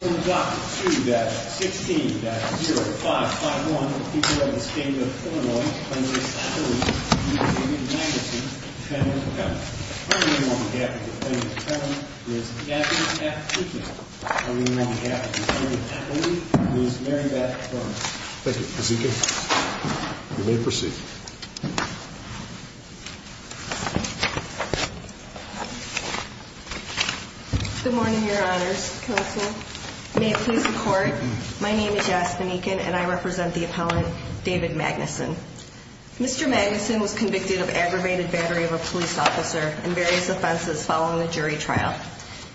from Dr. 2-16-0551, the people of the state of Illinois, Plaintiff's Affiliate, and the opinion of Magnuson, Defendant, Appellant. The first opinion on the affidavit of Plaintiff's Appellant is Gaffney F. Keating. The second opinion on the affidavit of Plaintiff's Affiliate is Mary Beth Burns. Thank you, Kazuki. You may proceed. Good morning, Your Honors. Counsel, may it please the Court. My name is Jasmine Eakin, and I represent the Appellant, David Magnuson. Mr. Magnuson was convicted of aggravated battery of a police officer and various offenses following a jury trial.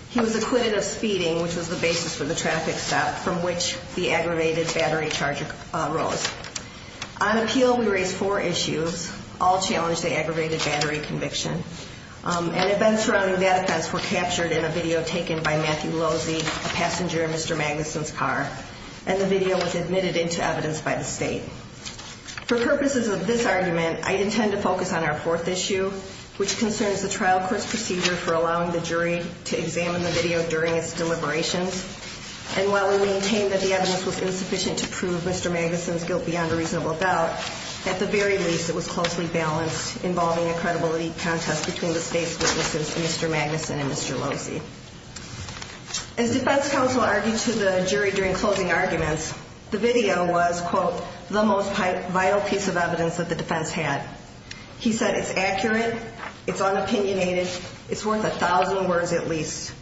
He was acquitted of speeding, which was the basis for the traffic stop from which the aggravated battery charge arose. On appeal, we raised four issues. All challenged the aggravated battery conviction. And events surrounding that offense were captured in a video taken by Matthew Losey, a passenger in Mr. Magnuson's car. And the video was admitted into evidence by the state. For purposes of this argument, I intend to focus on our fourth issue, which concerns the trial court's procedure for allowing the jury to examine the video during its deliberations. And while we maintain that the evidence was insufficient to prove Mr. Magnuson's guilt beyond a reasonable doubt, at the very least, it was closely balanced, involving a credibility contest between the state's witnesses, Mr. Magnuson and Mr. Losey. As defense counsel argued to the jury during closing arguments, the video was, quote, the most vital piece of evidence that the defense had. He said it's accurate, it's unopinionated, it's worth a thousand words at least.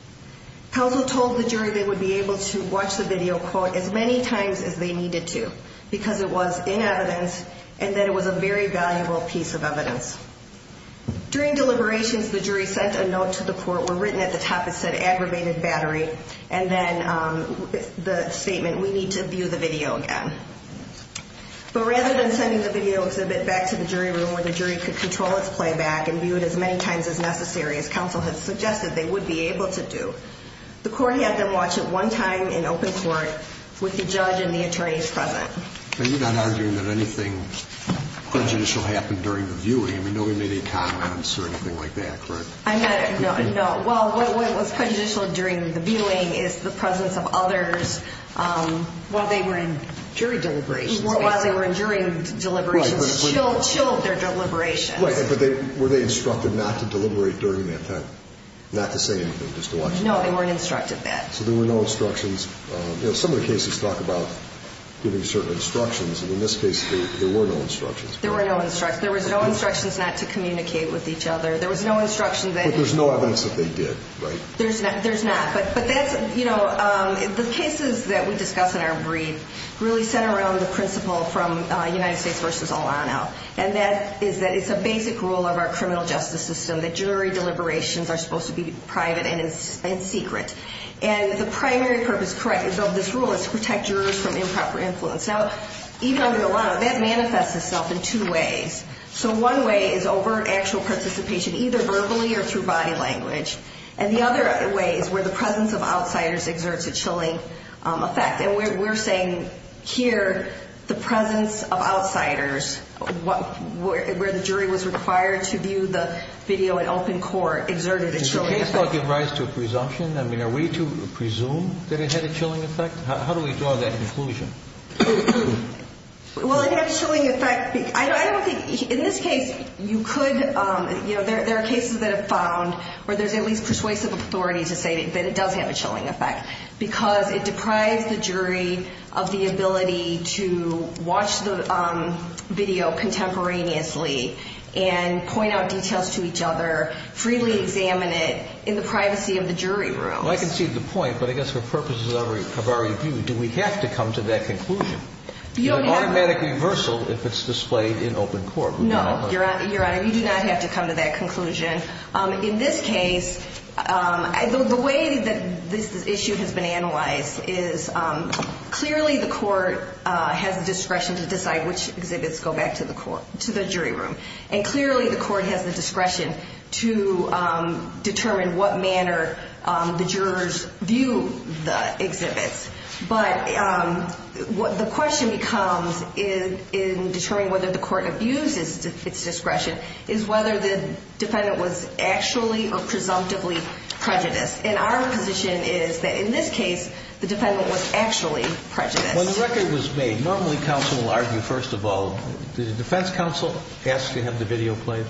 Counsel told the jury they would be able to watch the video, quote, as many times as they needed to, because it was in evidence and that it was a very valuable piece of evidence. During deliberations, the jury sent a note to the court where written at the top, it said aggravated battery. And then the statement, we need to view the video again. But rather than sending the video exhibit back to the jury room where the jury could control its playback and view it as many times as necessary, as counsel had suggested they would be able to do, the court had them watch it one time in open court with the judge and the attorneys present. And you're not arguing that anything prejudicial happened during the viewing? I mean, nobody made any comments or anything like that, correct? No. Well, what was prejudicial during the viewing is the presence of others while they were in jury deliberations. While they were in jury deliberations. Chilled their deliberations. Right. But were they instructed not to deliberate during that time, not to say anything, just to watch it? No, they weren't instructed that. So there were no instructions. Some of the cases talk about giving certain instructions, and in this case there were no instructions. There were no instructions. There was no instructions not to communicate with each other. There was no instruction that... But there's no evidence that they did, right? There's not. But that's, you know, the cases that we discuss in our brief really center around the principle from United States v. Olano, and that is that it's a basic rule of our criminal justice system that jury deliberations are supposed to be private and secret. And the primary purpose of this rule is to protect jurors from improper influence. Now, even under Olano, that manifests itself in two ways. So one way is overt actual participation, either verbally or through body language. And the other way is where the presence of outsiders exerts a chilling effect. And we're saying here the presence of outsiders where the jury was required to view the video in open court exerted a chilling effect. Does the case law give rise to a presumption? I mean, are we to presume that it had a chilling effect? How do we draw that conclusion? Well, it had a chilling effect. I don't think... In this case, you could... You know, there are cases that have found where there's at least persuasive authority to say that it does have a chilling effect because it deprives the jury of the ability to watch the video contemporaneously and point out details to each other, freely examine it in the privacy of the jury room. Well, I concede the point, but I guess for purposes of our review, do we have to come to that conclusion? You don't have to. Automatic reversal if it's displayed in open court. No, Your Honor. You do not have to come to that conclusion. In this case, the way that this issue has been analyzed is clearly the court has the discretion to decide which exhibits go back to the jury room, and clearly the court has the discretion to determine what manner the jurors view the exhibits. But the question becomes, in determining whether the court abuses its discretion, is whether the defendant was actually or presumptively prejudiced. And our position is that in this case, the defendant was actually prejudiced. When the record was made, normally counsel will argue first of all... Did the defense counsel ask to have the video played?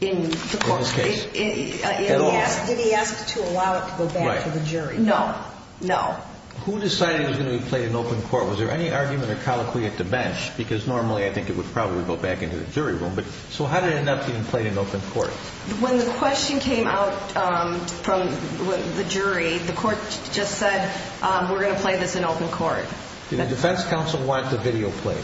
In the court... In this case. Did he ask to allow it to go back to the jury? Right. No. No. Who decided it was going to be played in open court? Was there any argument or colloquy at the bench? Because normally I think it would probably go back into the jury room. So how did it end up being played in open court? When the question came out from the jury, the court just said, we're going to play this in open court. Did the defense counsel want the video played?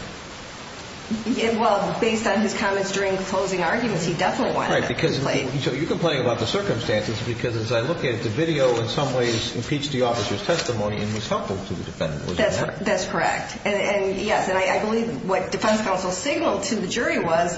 Well, based on his comments during the closing arguments, he definitely wanted it to be played. So you're complaining about the circumstances because as I look at it, the video in some ways impeached the officer's testimony and was helpful to the defendant. That's correct. And, yes, I believe what defense counsel signaled to the jury was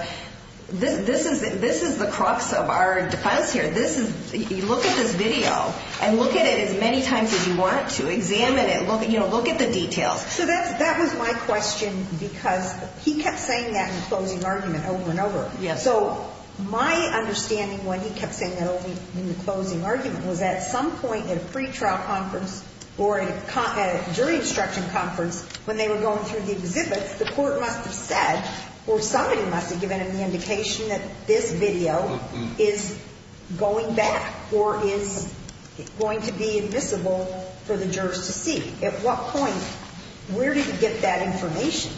this is the crux of our defense here. Look at this video and look at it as many times as you want to. Examine it. Look at the details. So that was my question because he kept saying that in the closing argument over and over. So my understanding when he kept saying that in the closing argument was at some point in a pretrial conference or a jury instruction conference when they were going through the exhibits, the court must have said or somebody must have given him the indication that this video is going back or is going to be admissible for the jurors to see. At what point, where did he get that information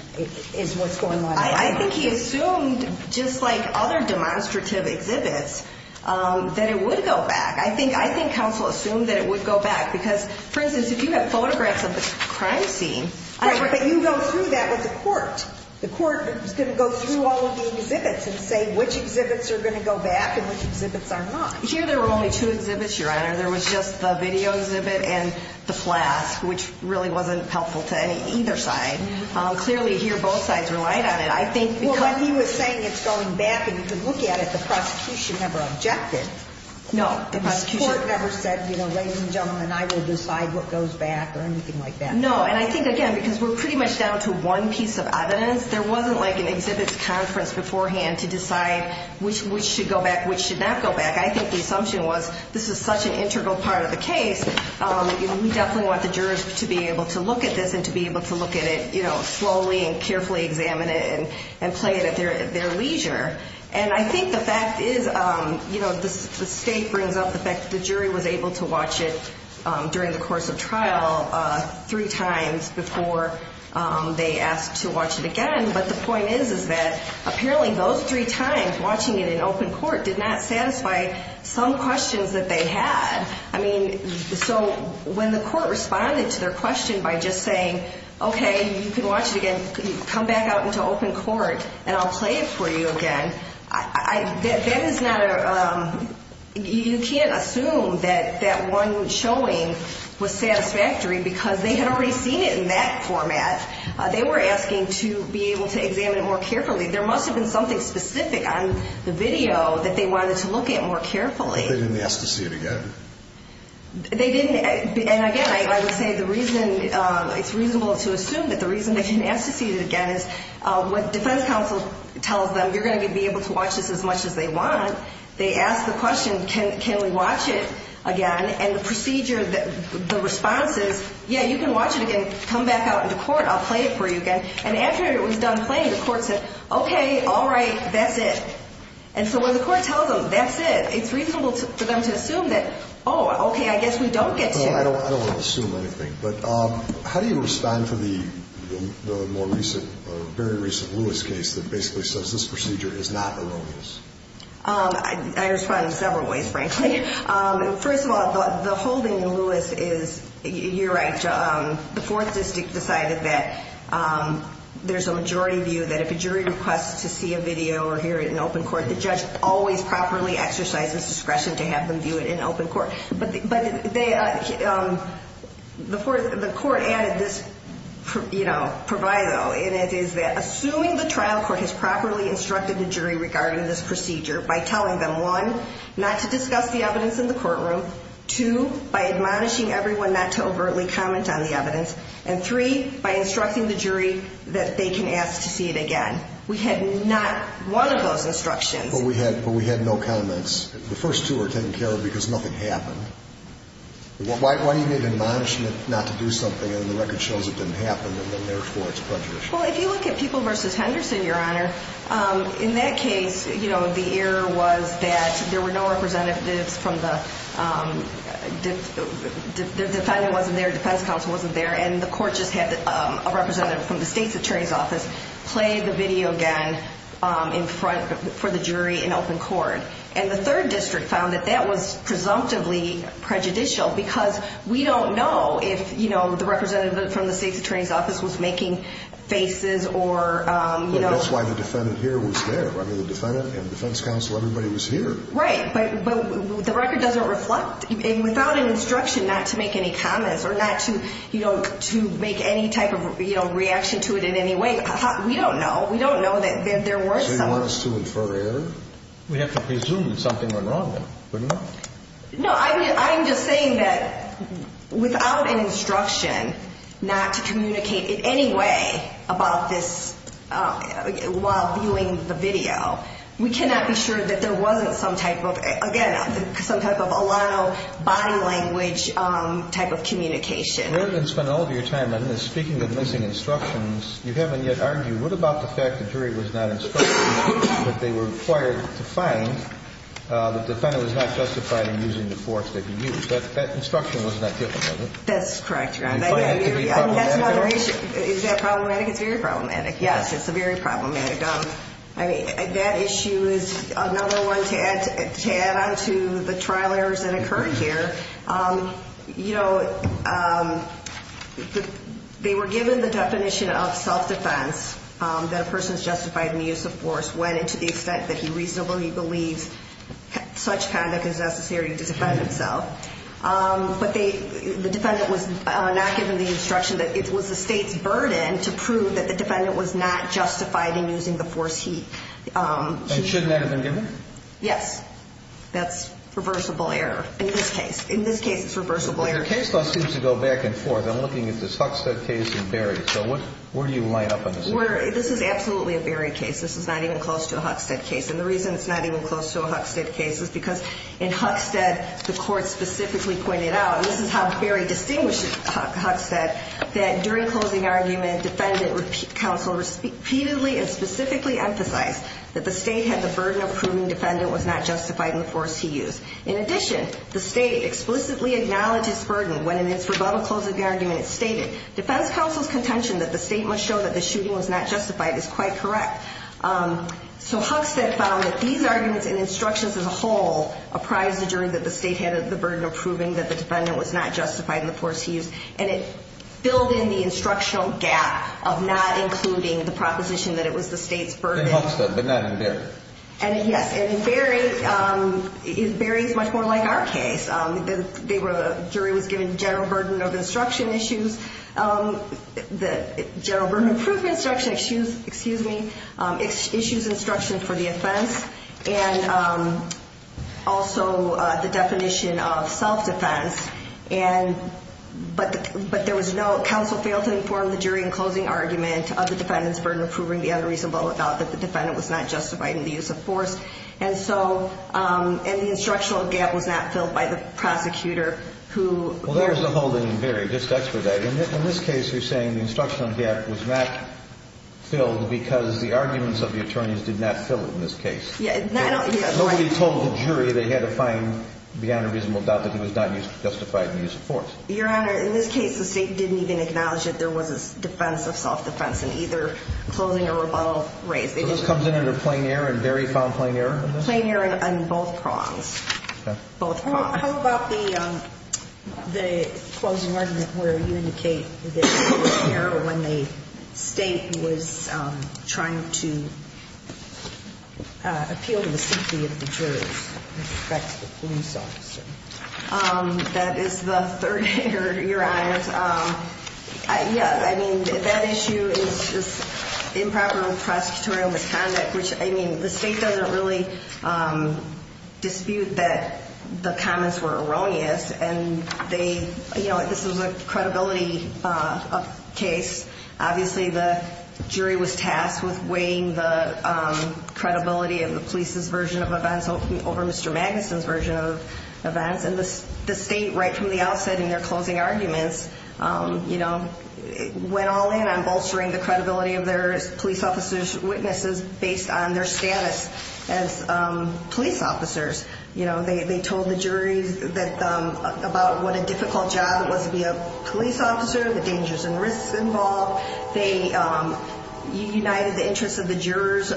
is what's going on. I think he assumed just like other demonstrative exhibits that it would go back. I think counsel assumed that it would go back because, for instance, if you have photographs of the crime scene, you go through that with the court. The court is going to go through all of the exhibits and say which exhibits are going to go back and which exhibits are not. Here there were only two exhibits, Your Honor. There was just the video exhibit and the flask, which really wasn't helpful to either side. Clearly here both sides relied on it. He was saying it's going back and you could look at it. The prosecution never objected. No. The court never said, ladies and gentlemen, I will decide what goes back or anything like that. No, and I think, again, because we're pretty much down to one piece of evidence, there wasn't like an exhibits conference beforehand to decide which should go back, which should not go back. I think the assumption was this is such an integral part of the case. We definitely want the jurors to be able to look at this and to be able to look at it, you know, slowly and carefully examine it and play it at their leisure. And I think the fact is, you know, the state brings up the fact that the jury was able to watch it during the course of trial three times before they asked to watch it again. But the point is that apparently those three times watching it in open court did not satisfy some questions that they had. I mean, so when the court responded to their question by just saying, okay, you can watch it again. Come back out into open court and I'll play it for you again. That is not a – you can't assume that that one showing was satisfactory because they had already seen it in that format. They were asking to be able to examine it more carefully. There must have been something specific on the video that they wanted to look at more carefully. But they didn't ask to see it again. They didn't. And again, I would say the reason – it's reasonable to assume that the reason they didn't ask to see it again is what defense counsel tells them, you're going to be able to watch this as much as they want. They ask the question, can we watch it again? And the procedure, the response is, yeah, you can watch it again. Come back out into court. I'll play it for you again. And after it was done playing, the court said, okay, all right, that's it. And so when the court tells them that's it, it's reasonable for them to assume that, oh, okay, I guess we don't get to. I don't want to assume anything. But how do you respond to the more recent or very recent Lewis case that basically says this procedure is not erroneous? I respond in several ways, frankly. First of all, the holding in Lewis is – you're right. The fourth district decided that there's a majority view that if a jury requests to see a video or hear it in open court, the judge always properly exercises discretion to have them view it in open court. But the court added this proviso, and it is that assuming the trial court has properly instructed the jury regarding this procedure by telling them, one, not to discuss the evidence in the courtroom, two, by admonishing everyone not to overtly comment on the evidence, and three, by instructing the jury that they can ask to see it again. We had not one of those instructions. But we had no comments. The first two are taken care of because nothing happened. Why do you need admonishment not to do something and the record shows it didn't happen and therefore it's prejudice? Well, if you look at People v. Henderson, Your Honor, in that case, you know, the error was that there were no representatives from the – the defendant wasn't there, defense counsel wasn't there, and the court just had a representative from the state's attorney's office play the video again in front – for the jury in open court. And the third district found that that was presumptively prejudicial because we don't know if, you know, the representative from the state's attorney's office was making faces or, you know – Right, but – but the record doesn't reflect – without an instruction not to make any comments or not to, you know, to make any type of, you know, reaction to it in any way. We don't know. We don't know that there were some – So you want us to infer error? We have to presume something went wrong, wouldn't we? No, I mean, I'm just saying that without an instruction not to communicate in any way about this while viewing the video, we cannot be sure that there wasn't some type of – again, some type of a lot of body language type of communication. We haven't spent all of your time on this. Speaking of missing instructions, you haven't yet argued. What about the fact the jury was not instructed that they were required to find – that the defendant was not justified in using the force that he used? That instruction wasn't that difficult, was it? That's correct, Your Honor. You find it to be problematic? I mean, that's another issue. Is that problematic? It's very problematic, yes. It's very problematic. I mean, that issue is another one to add on to the trial errors that occurred here. You know, they were given the definition of self-defense that a person is justified in the use of force when and to the extent that he reasonably believes such conduct is necessary to defend himself. But the defendant was not given the instruction that it was the state's burden to prove that the defendant was not justified in using the force he used. And shouldn't that have been given? Yes. That's reversible error in this case. In this case, it's reversible error. But your case law seems to go back and forth. I'm looking at this Huckstead case and Berry. So where do you line up on this? This is absolutely a Berry case. This is not even close to a Huckstead case. And the reason it's not even close to a Huckstead case is because in Huckstead, the court specifically pointed out, and this is how Berry distinguishes Huckstead, that during closing argument, defendant counsel repeatedly and specifically emphasized that the state had the burden of proving defendant was not justified in the force he used. In addition, the state explicitly acknowledges burden when in its rebuttal closing argument it stated defense counsel's contention that the state must show that the shooting was not justified is quite correct. So Huckstead found that these arguments and instructions as a whole apprise the jury that the state had the burden of proving that the defendant was not justified in the force he used. And it filled in the instructional gap of not including the proposition that it was the state's burden. In Huckstead, but not in Berry. Yes, and Berry is much more like our case. The jury was given general burden of instruction issues. The general burden of proof instruction issues instruction for the offense and also the definition of self-defense. But there was no counsel failed to inform the jury in closing argument of the defendant's burden of proving the unreasonable doubt that the defendant was not justified in the use of force. And the instructional gap was not filled by the prosecutor who Well, there was a hole in Berry. In this case, you're saying the instructional gap was not filled because the arguments of the attorneys did not fill it in this case. Nobody told the jury they had to find beyond a reasonable doubt that he was not justified in the use of force. Your Honor, in this case, the state didn't even acknowledge that there was a defense of self-defense in either closing or rebuttal race. So this comes in under plain error and Berry found plain error in this? Plain error on both prongs. Both prongs. How about the closing argument where you indicate that there was error when the state was trying to appeal to the safety of the jurors with respect to the police officer? That is the third error, Your Honor. Yes, I mean, that issue is improper prosecutorial misconduct, which, I mean, the state doesn't really dispute that the comments were erroneous and they, you know, this was a credibility case. Obviously, the jury was tasked with weighing the credibility of the police's version of events over Mr. Magnuson's version of events, and the state, right from the outset in their closing arguments, you know, went all in on bolstering the credibility of their police officers' witnesses based on their status as police officers. You know, they told the jury about what a difficult job it was to be a police officer, the dangers and risks involved. They united the interests of the jurors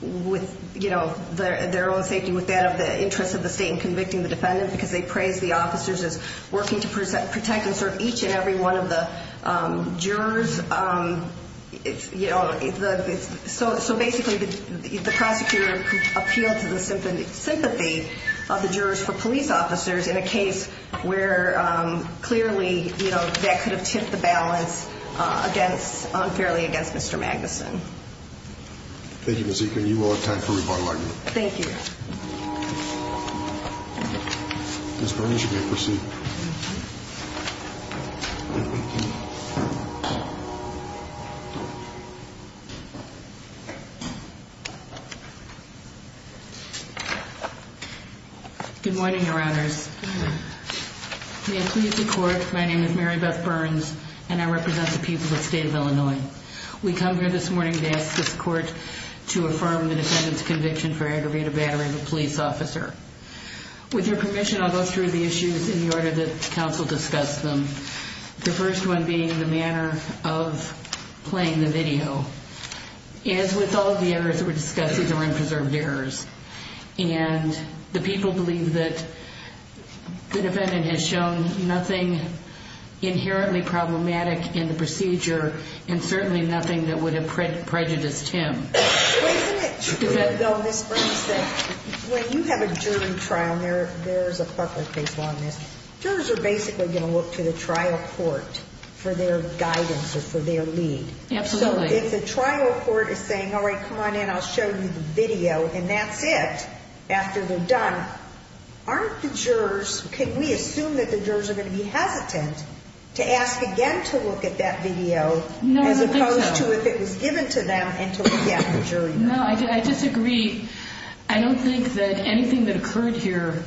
with, you know, their own safety with that of the interests of the state in convicting the defendant because they praised the officers as working to protect and serve each and every one of the jurors. You know, so basically the prosecutor appealed to the sympathy of the jurors for police officers in a case where clearly, you know, that could have tipped the balance unfairly against Mr. Magnuson. Thank you, Ms. Eakin. You will have time for rebuttal argument. Thank you. Ms. Burns, you may proceed. Thank you. Good morning, Your Honors. Good morning. May it please the Court, my name is Mary Beth Burns, and I represent the people of the state of Illinois. We come here this morning to ask this Court to affirm the defendant's conviction for aggravated battery of a police officer. With your permission, I'll go through the issues in the order that counsel discussed them, the first one being the manner of playing the video. As with all of the errors that were discussed, these are unpreserved errors, and the people believe that the defendant has shown nothing inherently problematic in the procedure and certainly nothing that would have prejudiced him. Isn't it, though, Ms. Burns, that when you have a jury trial, and there is a corporate case on this, jurors are basically going to look to the trial court for their guidance or for their lead. Absolutely. So if the trial court is saying, all right, come on in, I'll show you the video, and that's it, after they're done, aren't the jurors, can we assume that the jurors are going to be hesitant to ask again to look at that video as opposed to if it was given to them and to look at the jury room? No, I disagree. I don't think that anything that occurred here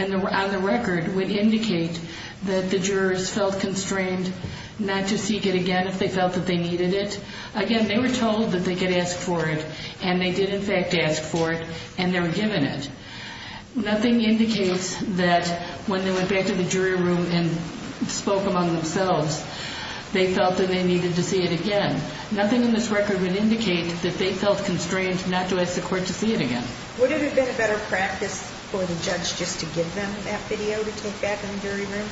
on the record would indicate that the jurors felt constrained not to seek it again if they felt that they needed it. Again, they were told that they could ask for it, and they did in fact ask for it, and they were given it. Nothing indicates that when they went back to the jury room and spoke among themselves, they felt that they needed to see it again. Nothing in this record would indicate that they felt constrained not to ask the court to see it again. Would it have been a better practice for the judge just to give them that video to take back in the jury room?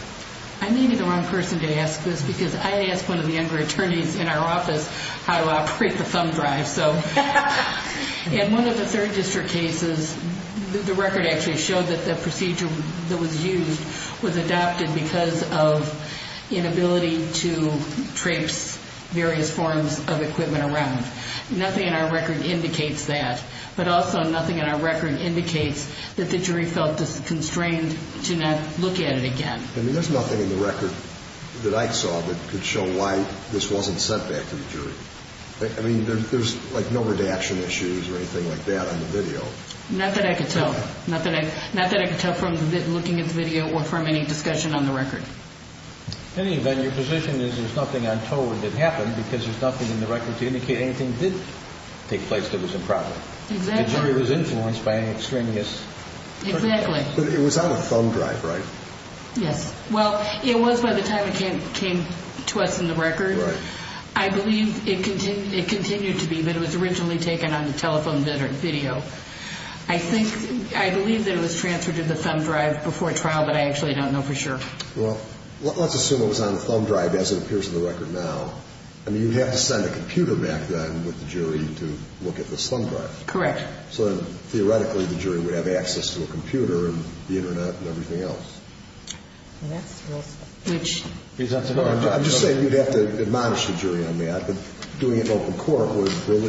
I may be the wrong person to ask this because I asked one of the younger attorneys in our office how to operate the thumb drive. In one of the third district cases, the record actually showed that the procedure that was used was adopted because of inability to trace various forms of equipment around. Nothing in our record indicates that, but also nothing in our record indicates that the jury felt constrained to not look at it again. I mean, there's nothing in the record that I saw that could show why this wasn't sent back to the jury. I mean, there's like no redaction issues or anything like that on the video. Not that I could tell. Not that I could tell from looking at the video or from any discussion on the record. In any event, your position is there's nothing untold that happened because there's nothing in the record to indicate anything did take place that was improper. Exactly. The jury was influenced by an extremist. Exactly. But it was on the thumb drive, right? Yes. Well, it was by the time it came to us in the record. Right. I believe it continued to be, but it was originally taken on the telephone video. I think, I believe that it was transferred to the thumb drive before trial, but I actually don't know for sure. Well, let's assume it was on the thumb drive as it appears in the record now. I mean, you'd have to send a computer back then with the jury to look at this thumb drive. Correct. So then, theoretically, the jury would have access to a computer and the Internet and everything else. Yes. I'm just saying you'd have to admonish the jury on that. But doing it in open court would put that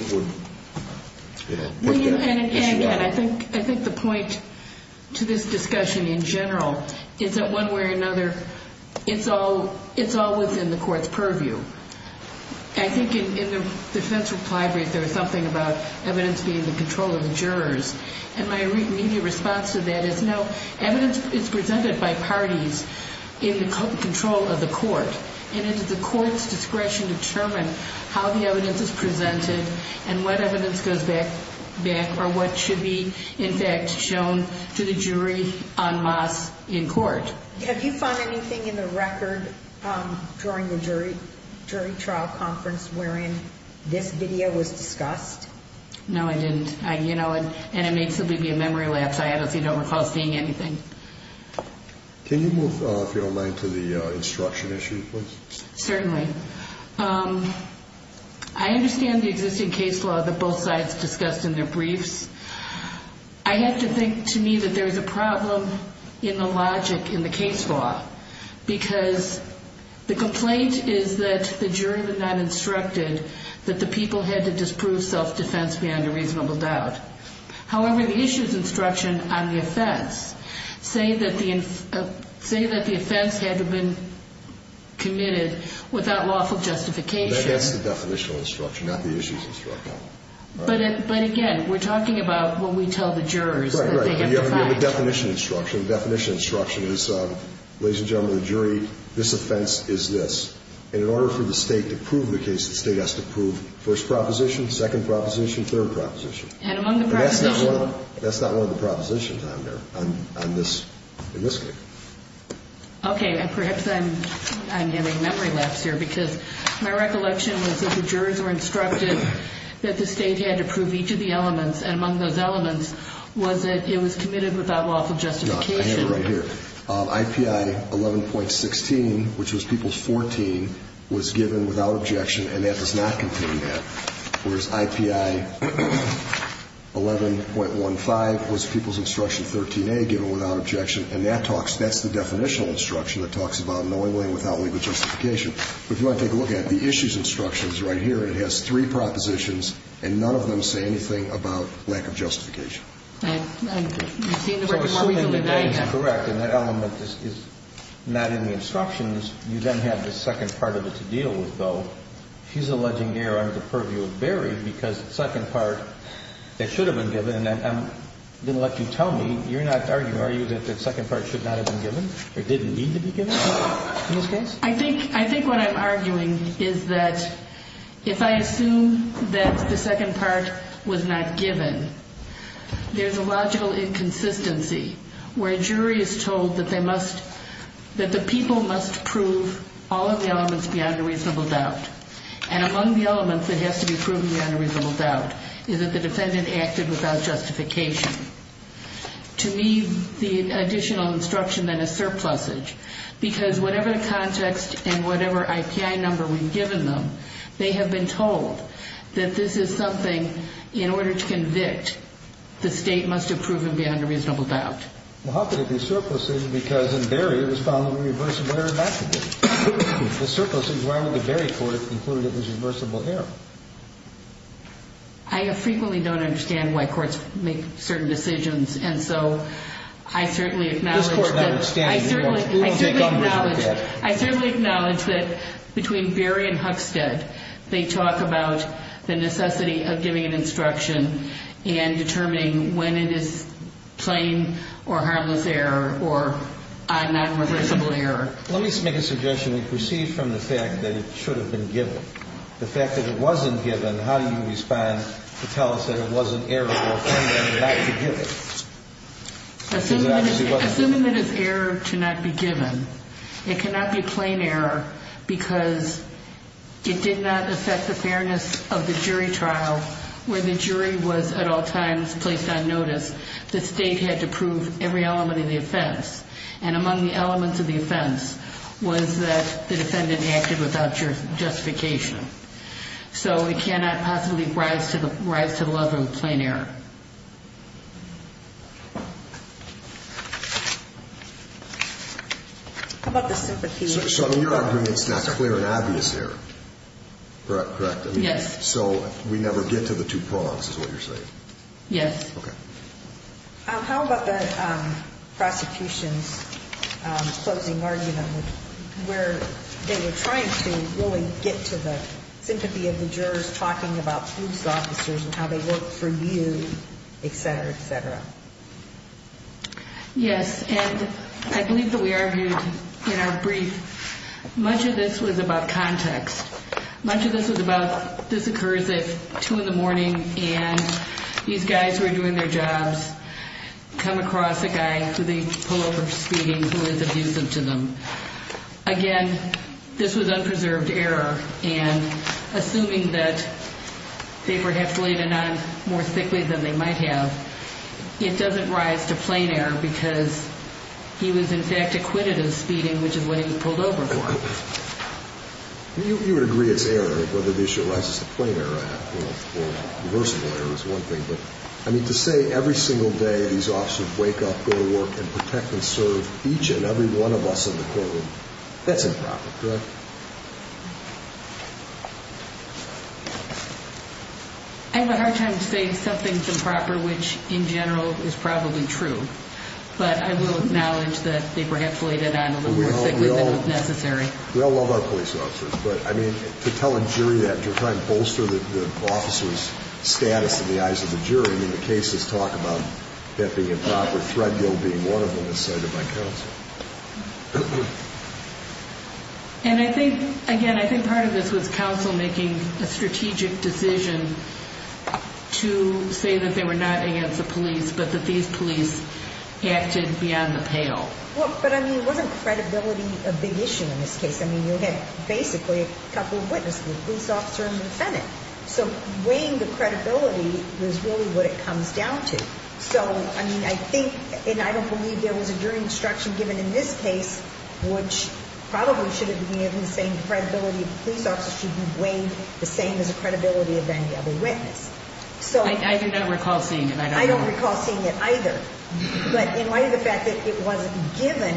issue out. I think the point to this discussion in general is that one way or another, it's all within the court's purview. I think in the defense reply brief there was something about evidence being in control of the jurors. And my immediate response to that is, no, evidence is presented by parties in control of the court. And it's the court's discretion to determine how the evidence is presented and what evidence goes back or what should be, in fact, shown to the jury en masse in court. Have you found anything in the record during the jury trial conference wherein this video was discussed? No, I didn't. And it may simply be a memory lapse. I honestly don't recall seeing anything. Can you move, if you don't mind, to the instruction issue, please? Certainly. I understand the existing case law that both sides discussed in their briefs. I have to think, to me, that there's a problem in the logic in the case law, because the complaint is that the jurors are not instructed that the people had to disprove self-defense beyond a reasonable doubt. However, the issues instruction on the offense say that the offense had to have been committed without lawful justification. That's the definitional instruction, not the issues instruction. But, again, we're talking about when we tell the jurors that they get the fact. No, you have a definition instruction. The definition instruction is, ladies and gentlemen of the jury, this offense is this. And in order for the State to prove the case, the State has to prove first proposition, second proposition, third proposition. And among the propositions? And that's not one of the propositions on there, on this case. Okay. And perhaps I'm getting memory lapse here, because my recollection was that the jurors were instructed that the State had to prove each of the elements. And among those elements was that it was committed without lawful justification. No, I have it right here. IPI 11.16, which was People's 14, was given without objection, and that does not contain that. Whereas, IPI 11.15 was People's Instruction 13A, given without objection. And that talks, that's the definitional instruction that talks about knowingly and without legal justification. But if you want to take a look at it, the issues instruction is right here. It has three propositions, and none of them say anything about lack of justification. So assuming that that is correct and that element is not in the instructions, you then have the second part of it to deal with, though. She's alleging error under the purview of Berry, because the second part, it should have been given. And I'm going to let you tell me, you're not arguing, are you, that the second part should not have been given or didn't need to be given in this case? I think what I'm arguing is that if I assume that the second part was not given, there's a logical inconsistency where a jury is told that they must, that the people must prove all of the elements beyond a reasonable doubt. And among the elements that has to be proven beyond a reasonable doubt is that the defendant acted without justification. To me, the additional instruction then is surplusage, because whatever the context and whatever IPI number we've given them, they have been told that this is something, in order to convict, the State must have proven beyond a reasonable doubt. Well, how could it be surplusage, because in Berry, it was found to be reversible error, naturally. If it's surplusage, why would the Berry court conclude it was reversible error? I frequently don't understand why courts make certain decisions. And so I certainly acknowledge that between Berry and Huxted, they talk about the necessity of giving an instruction and determining when it is plain or harmless error or a non-reversible error. Let me make a suggestion that proceeds from the fact that it should have been given. The fact that it wasn't given, how do you respond to tell us that it was an error for a defendant not to give it? Assuming that it's error to not be given, it cannot be plain error because it did not affect the fairness of the jury trial, where the jury was at all times placed on notice, the State had to prove every element of the offense. And among the elements of the offense was that the defendant acted without justification. So it cannot possibly rise to the level of plain error. How about the sympathy? So you're arguing it's not clear and obvious error, correct? Yes. So we never get to the two pronouns is what you're saying? Yes. Okay. How about the prosecution's closing argument where they were trying to really get to the sympathy of the jurors talking about police officers and how they work for you, et cetera, et cetera? Yes. And I believe that we argued in our brief much of this was about context. Much of this was about this occurs at 2 in the morning and these guys who are doing their jobs come across a guy who they pull over speeding who is abusive to them. Again, this was unpreserved error, and assuming that they perhaps laid it on more thickly than they might have, it doesn't rise to plain error because he was, in fact, acquitted of speeding, which is what he pulled over for. You would agree it's error whether this arises to plain error or reversible error is one thing, but to say every single day these officers wake up, go to work, and protect and serve each and every one of us in the courtroom, that's improper, correct? I have a hard time saying something's improper, which in general is probably true, but I will acknowledge that they perhaps laid it on a little more thickly than was necessary. We all love our police officers, but, I mean, to tell a jury that, to try and bolster the officer's status in the eyes of the jury, I mean, the cases talk about that being improper, Threadgill being one of them is cited by counsel. And I think, again, I think part of this was counsel making a strategic decision to say that they were not against the police but that these police acted beyond the pale. Well, but, I mean, wasn't credibility a big issue in this case? I mean, you had basically a couple of witnesses, the police officer and the defendant. So weighing the credibility is really what it comes down to. So, I mean, I think, and I don't believe there was a jury instruction given in this case, which probably should have been given the same credibility of the police officer should be weighed the same as the credibility of any other witness. I do not recall seeing it. I don't recall seeing it either. But in light of the fact that it wasn't given,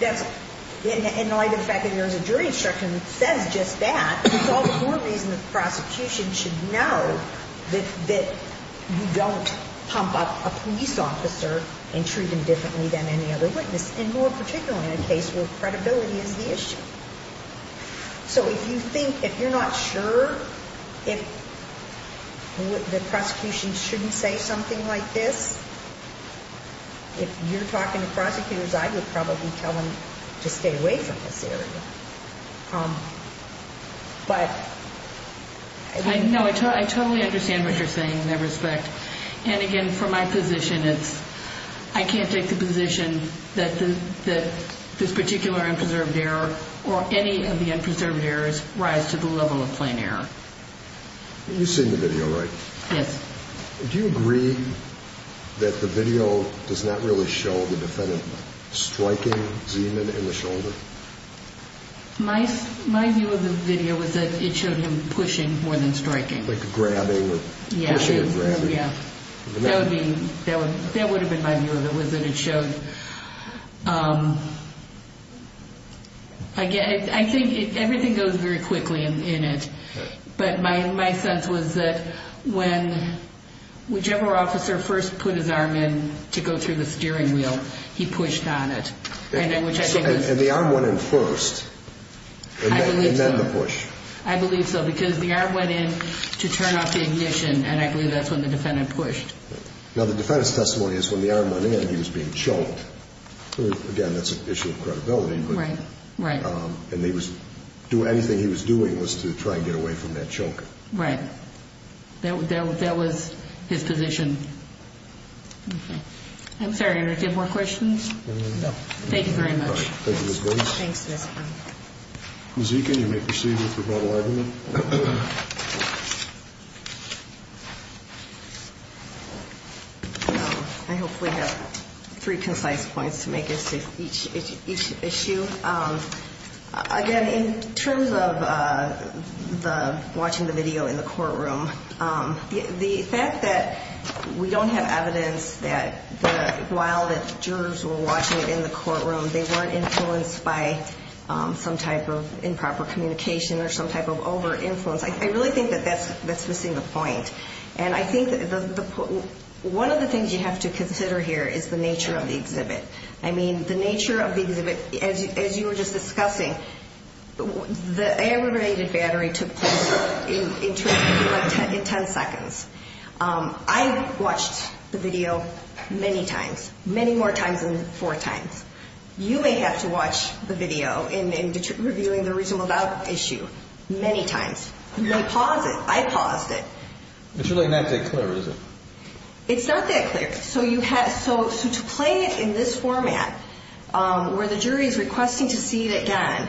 in light of the fact that there was a jury instruction that says just that, it's all the more reason the prosecution should know that you don't pump up a police officer and treat him differently than any other witness, and more particularly in a case where credibility is the issue. So if you think, if you're not sure if the prosecution shouldn't say something like this, if you're talking to prosecutors, I would probably tell them to stay away from this area. But... No, I totally understand what you're saying in that respect. And again, from my position, it's, I can't take the position that this particular unpreserved error or any of the unpreserved errors rise to the level of plain error. You've seen the video, right? Yes. Do you agree that the video does not really show the defendant striking Zeman in the shoulder? My view of the video was that it showed him pushing more than striking. Like grabbing or pushing and grabbing. Yeah. That would be, that would have been my view of it was that it showed... Again, I think everything goes very quickly in it. But my sense was that when whichever officer first put his arm in to go through the steering wheel, he pushed on it. And the arm went in first. I believe so. And then the push. I believe so. Because the arm went in to turn off the ignition. And I believe that's when the defendant pushed. Now, the defendant's testimony is when the arm went in, he was being choked. Again, that's an issue of credibility. Right. Right. And he was, anything he was doing was to try and get away from that choke. Right. That was his position. Okay. I'm sorry, did I get more questions? No. Thank you very much. All right. Thank you, Ms. Bates. Thanks, Mr. Brown. Ms. Eakin, you may proceed with your vote. I hope we have three concise points to make as to each issue. Again, in terms of watching the video in the courtroom, the fact that we don't have evidence that while the jurors were watching it in the courtroom, they weren't influenced by some type of improper communication or some type of over-influence, I really think that that's missing the point. And I think one of the things you have to consider here is the nature of the exhibit. I mean, the nature of the exhibit, as you were just discussing, the aggravated battery took place in terms of like 10 seconds. I watched the video many times, many more times than four times. You may have to watch the video in revealing the reasonable doubt issue many times. You may pause it. I paused it. It's really not that clear, is it? It's not that clear. So to play it in this format where the jury is requesting to see it again,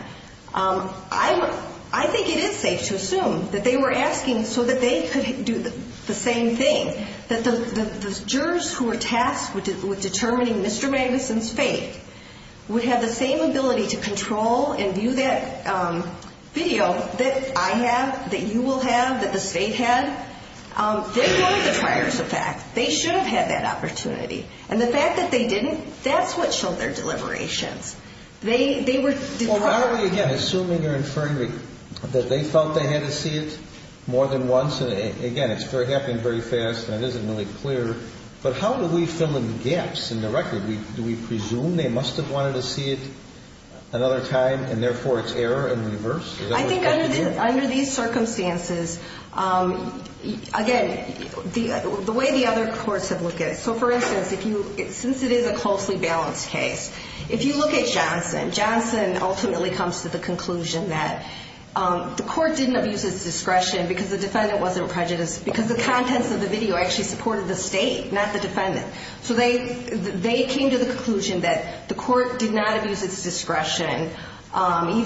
I think it is safe to assume that they were asking so that they could do the same thing, that the jurors who were tasked with determining Mr. Magnuson's fate would have the same ability to control and view that video that I have, that you will have, that the state had. They weren't the triers of fact. They should have had that opportunity. And the fact that they didn't, that's what showed their deliberations. Well, how are we, again, assuming or inferring that they felt they had to see it more than once? Again, it's happening very fast, and it isn't really clear. But how do we fill in the gaps in the record? Do we presume they must have wanted to see it another time, and therefore it's error in reverse? I think under these circumstances, again, the way the other courts have looked at it. So, for instance, since it is a closely balanced case, if you look at Johnson, Johnson ultimately comes to the conclusion that the court didn't abuse its discretion because the defendant wasn't prejudiced because the contents of the video actually supported the state, not the defendant. So they came to the conclusion that the court did not abuse its discretion, and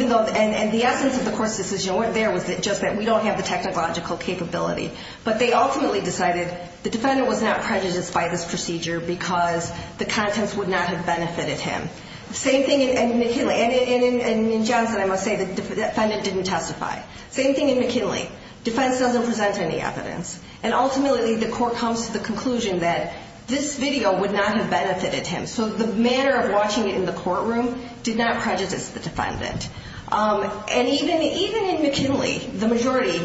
the essence of the court's decision wasn't there, it was just that we don't have the technological capability. But they ultimately decided the defendant was not prejudiced by this procedure because the contents would not have benefited him. Same thing in McKinley. And in Johnson, I must say, the defendant didn't testify. Same thing in McKinley. Defense doesn't present any evidence. And ultimately the court comes to the conclusion that this video would not have benefited him. So the manner of watching it in the courtroom did not prejudice the defendant. And even in McKinley, the majority,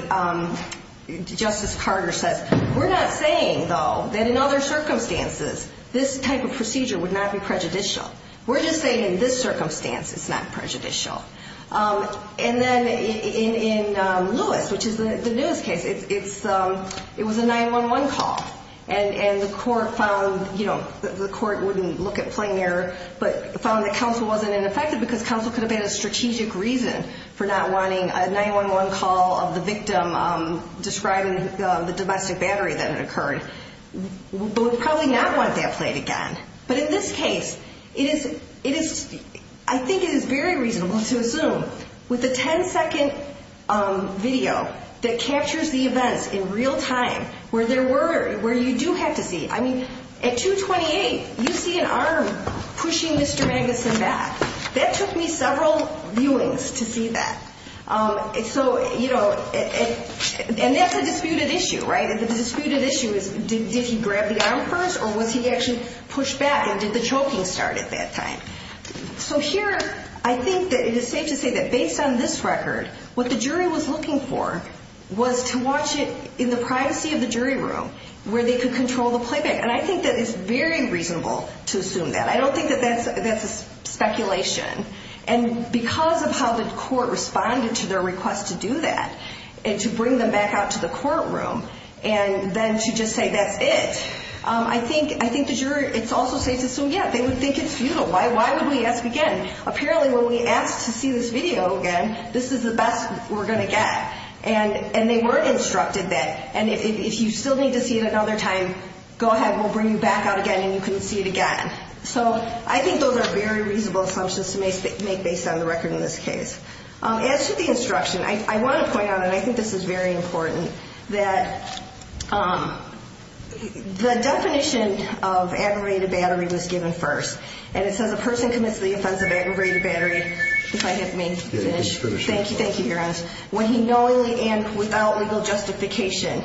Justice Carter says, we're not saying, though, that in other circumstances, this type of procedure would not be prejudicial. We're just saying in this circumstance it's not prejudicial. And then in Lewis, which is the newest case, it was a 911 call. And the court found, you know, the court wouldn't look at plain error, but found that counsel wasn't ineffective because counsel could have had a strategic reason for not wanting a 911 call of the victim describing the domestic battery that had occurred. But would probably not want that played again. But in this case, I think it is very reasonable to assume with a 10-second video that captures the events in real time where there were, where you do have to see. I mean, at 228, you see an arm pushing Mr. Magnuson back. That took me several viewings to see that. So, you know, and that's a disputed issue, right? The disputed issue is did he grab the arm first or was he actually pushed back and did the choking start at that time? So here, I think that it is safe to say that based on this record, what the jury was looking for was to watch it in the privacy of the jury room where they could control the playback. And I think that it's very reasonable to assume that. I don't think that that's a speculation. And because of how the court responded to their request to do that and to bring them back out to the courtroom and then to just say that's it, I think the jury, it's also safe to assume, yeah, they would think it's futile. Why would we ask again? Apparently, when we asked to see this video again, this is the best we're going to get. And they were instructed that. And if you still need to see it another time, go ahead. We'll bring you back out again and you can see it again. So I think those are very reasonable assumptions to make based on the record in this case. As to the instruction, I want to point out, and I think this is very important, that the definition of aggravated battery was given first. And it says a person commits the offense of aggravated battery. If I can finish. Yeah, you can finish. Thank you. When he knowingly and without legal justification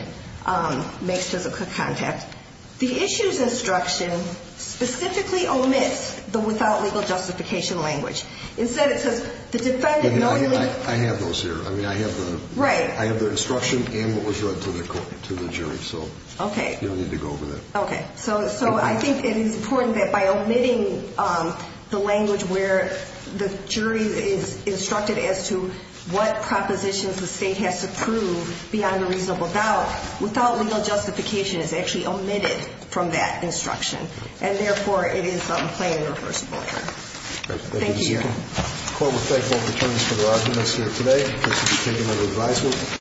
makes physical contact. The issue's instruction specifically omits the without legal justification language. Instead, it says the defendant knowingly. I have those here. I mean, I have the instruction and what was read to the jury. So you don't need to go over that. Okay. So I think it is important that by omitting the language where the jury is instructed as to what propositions the state has to prove beyond a reasonable doubt, without legal justification is actually omitted from that instruction. And, therefore, it is a plain and reversible offense. Thank you. The court will thank both attorneys for their arguments here today. This has been taken under advisory.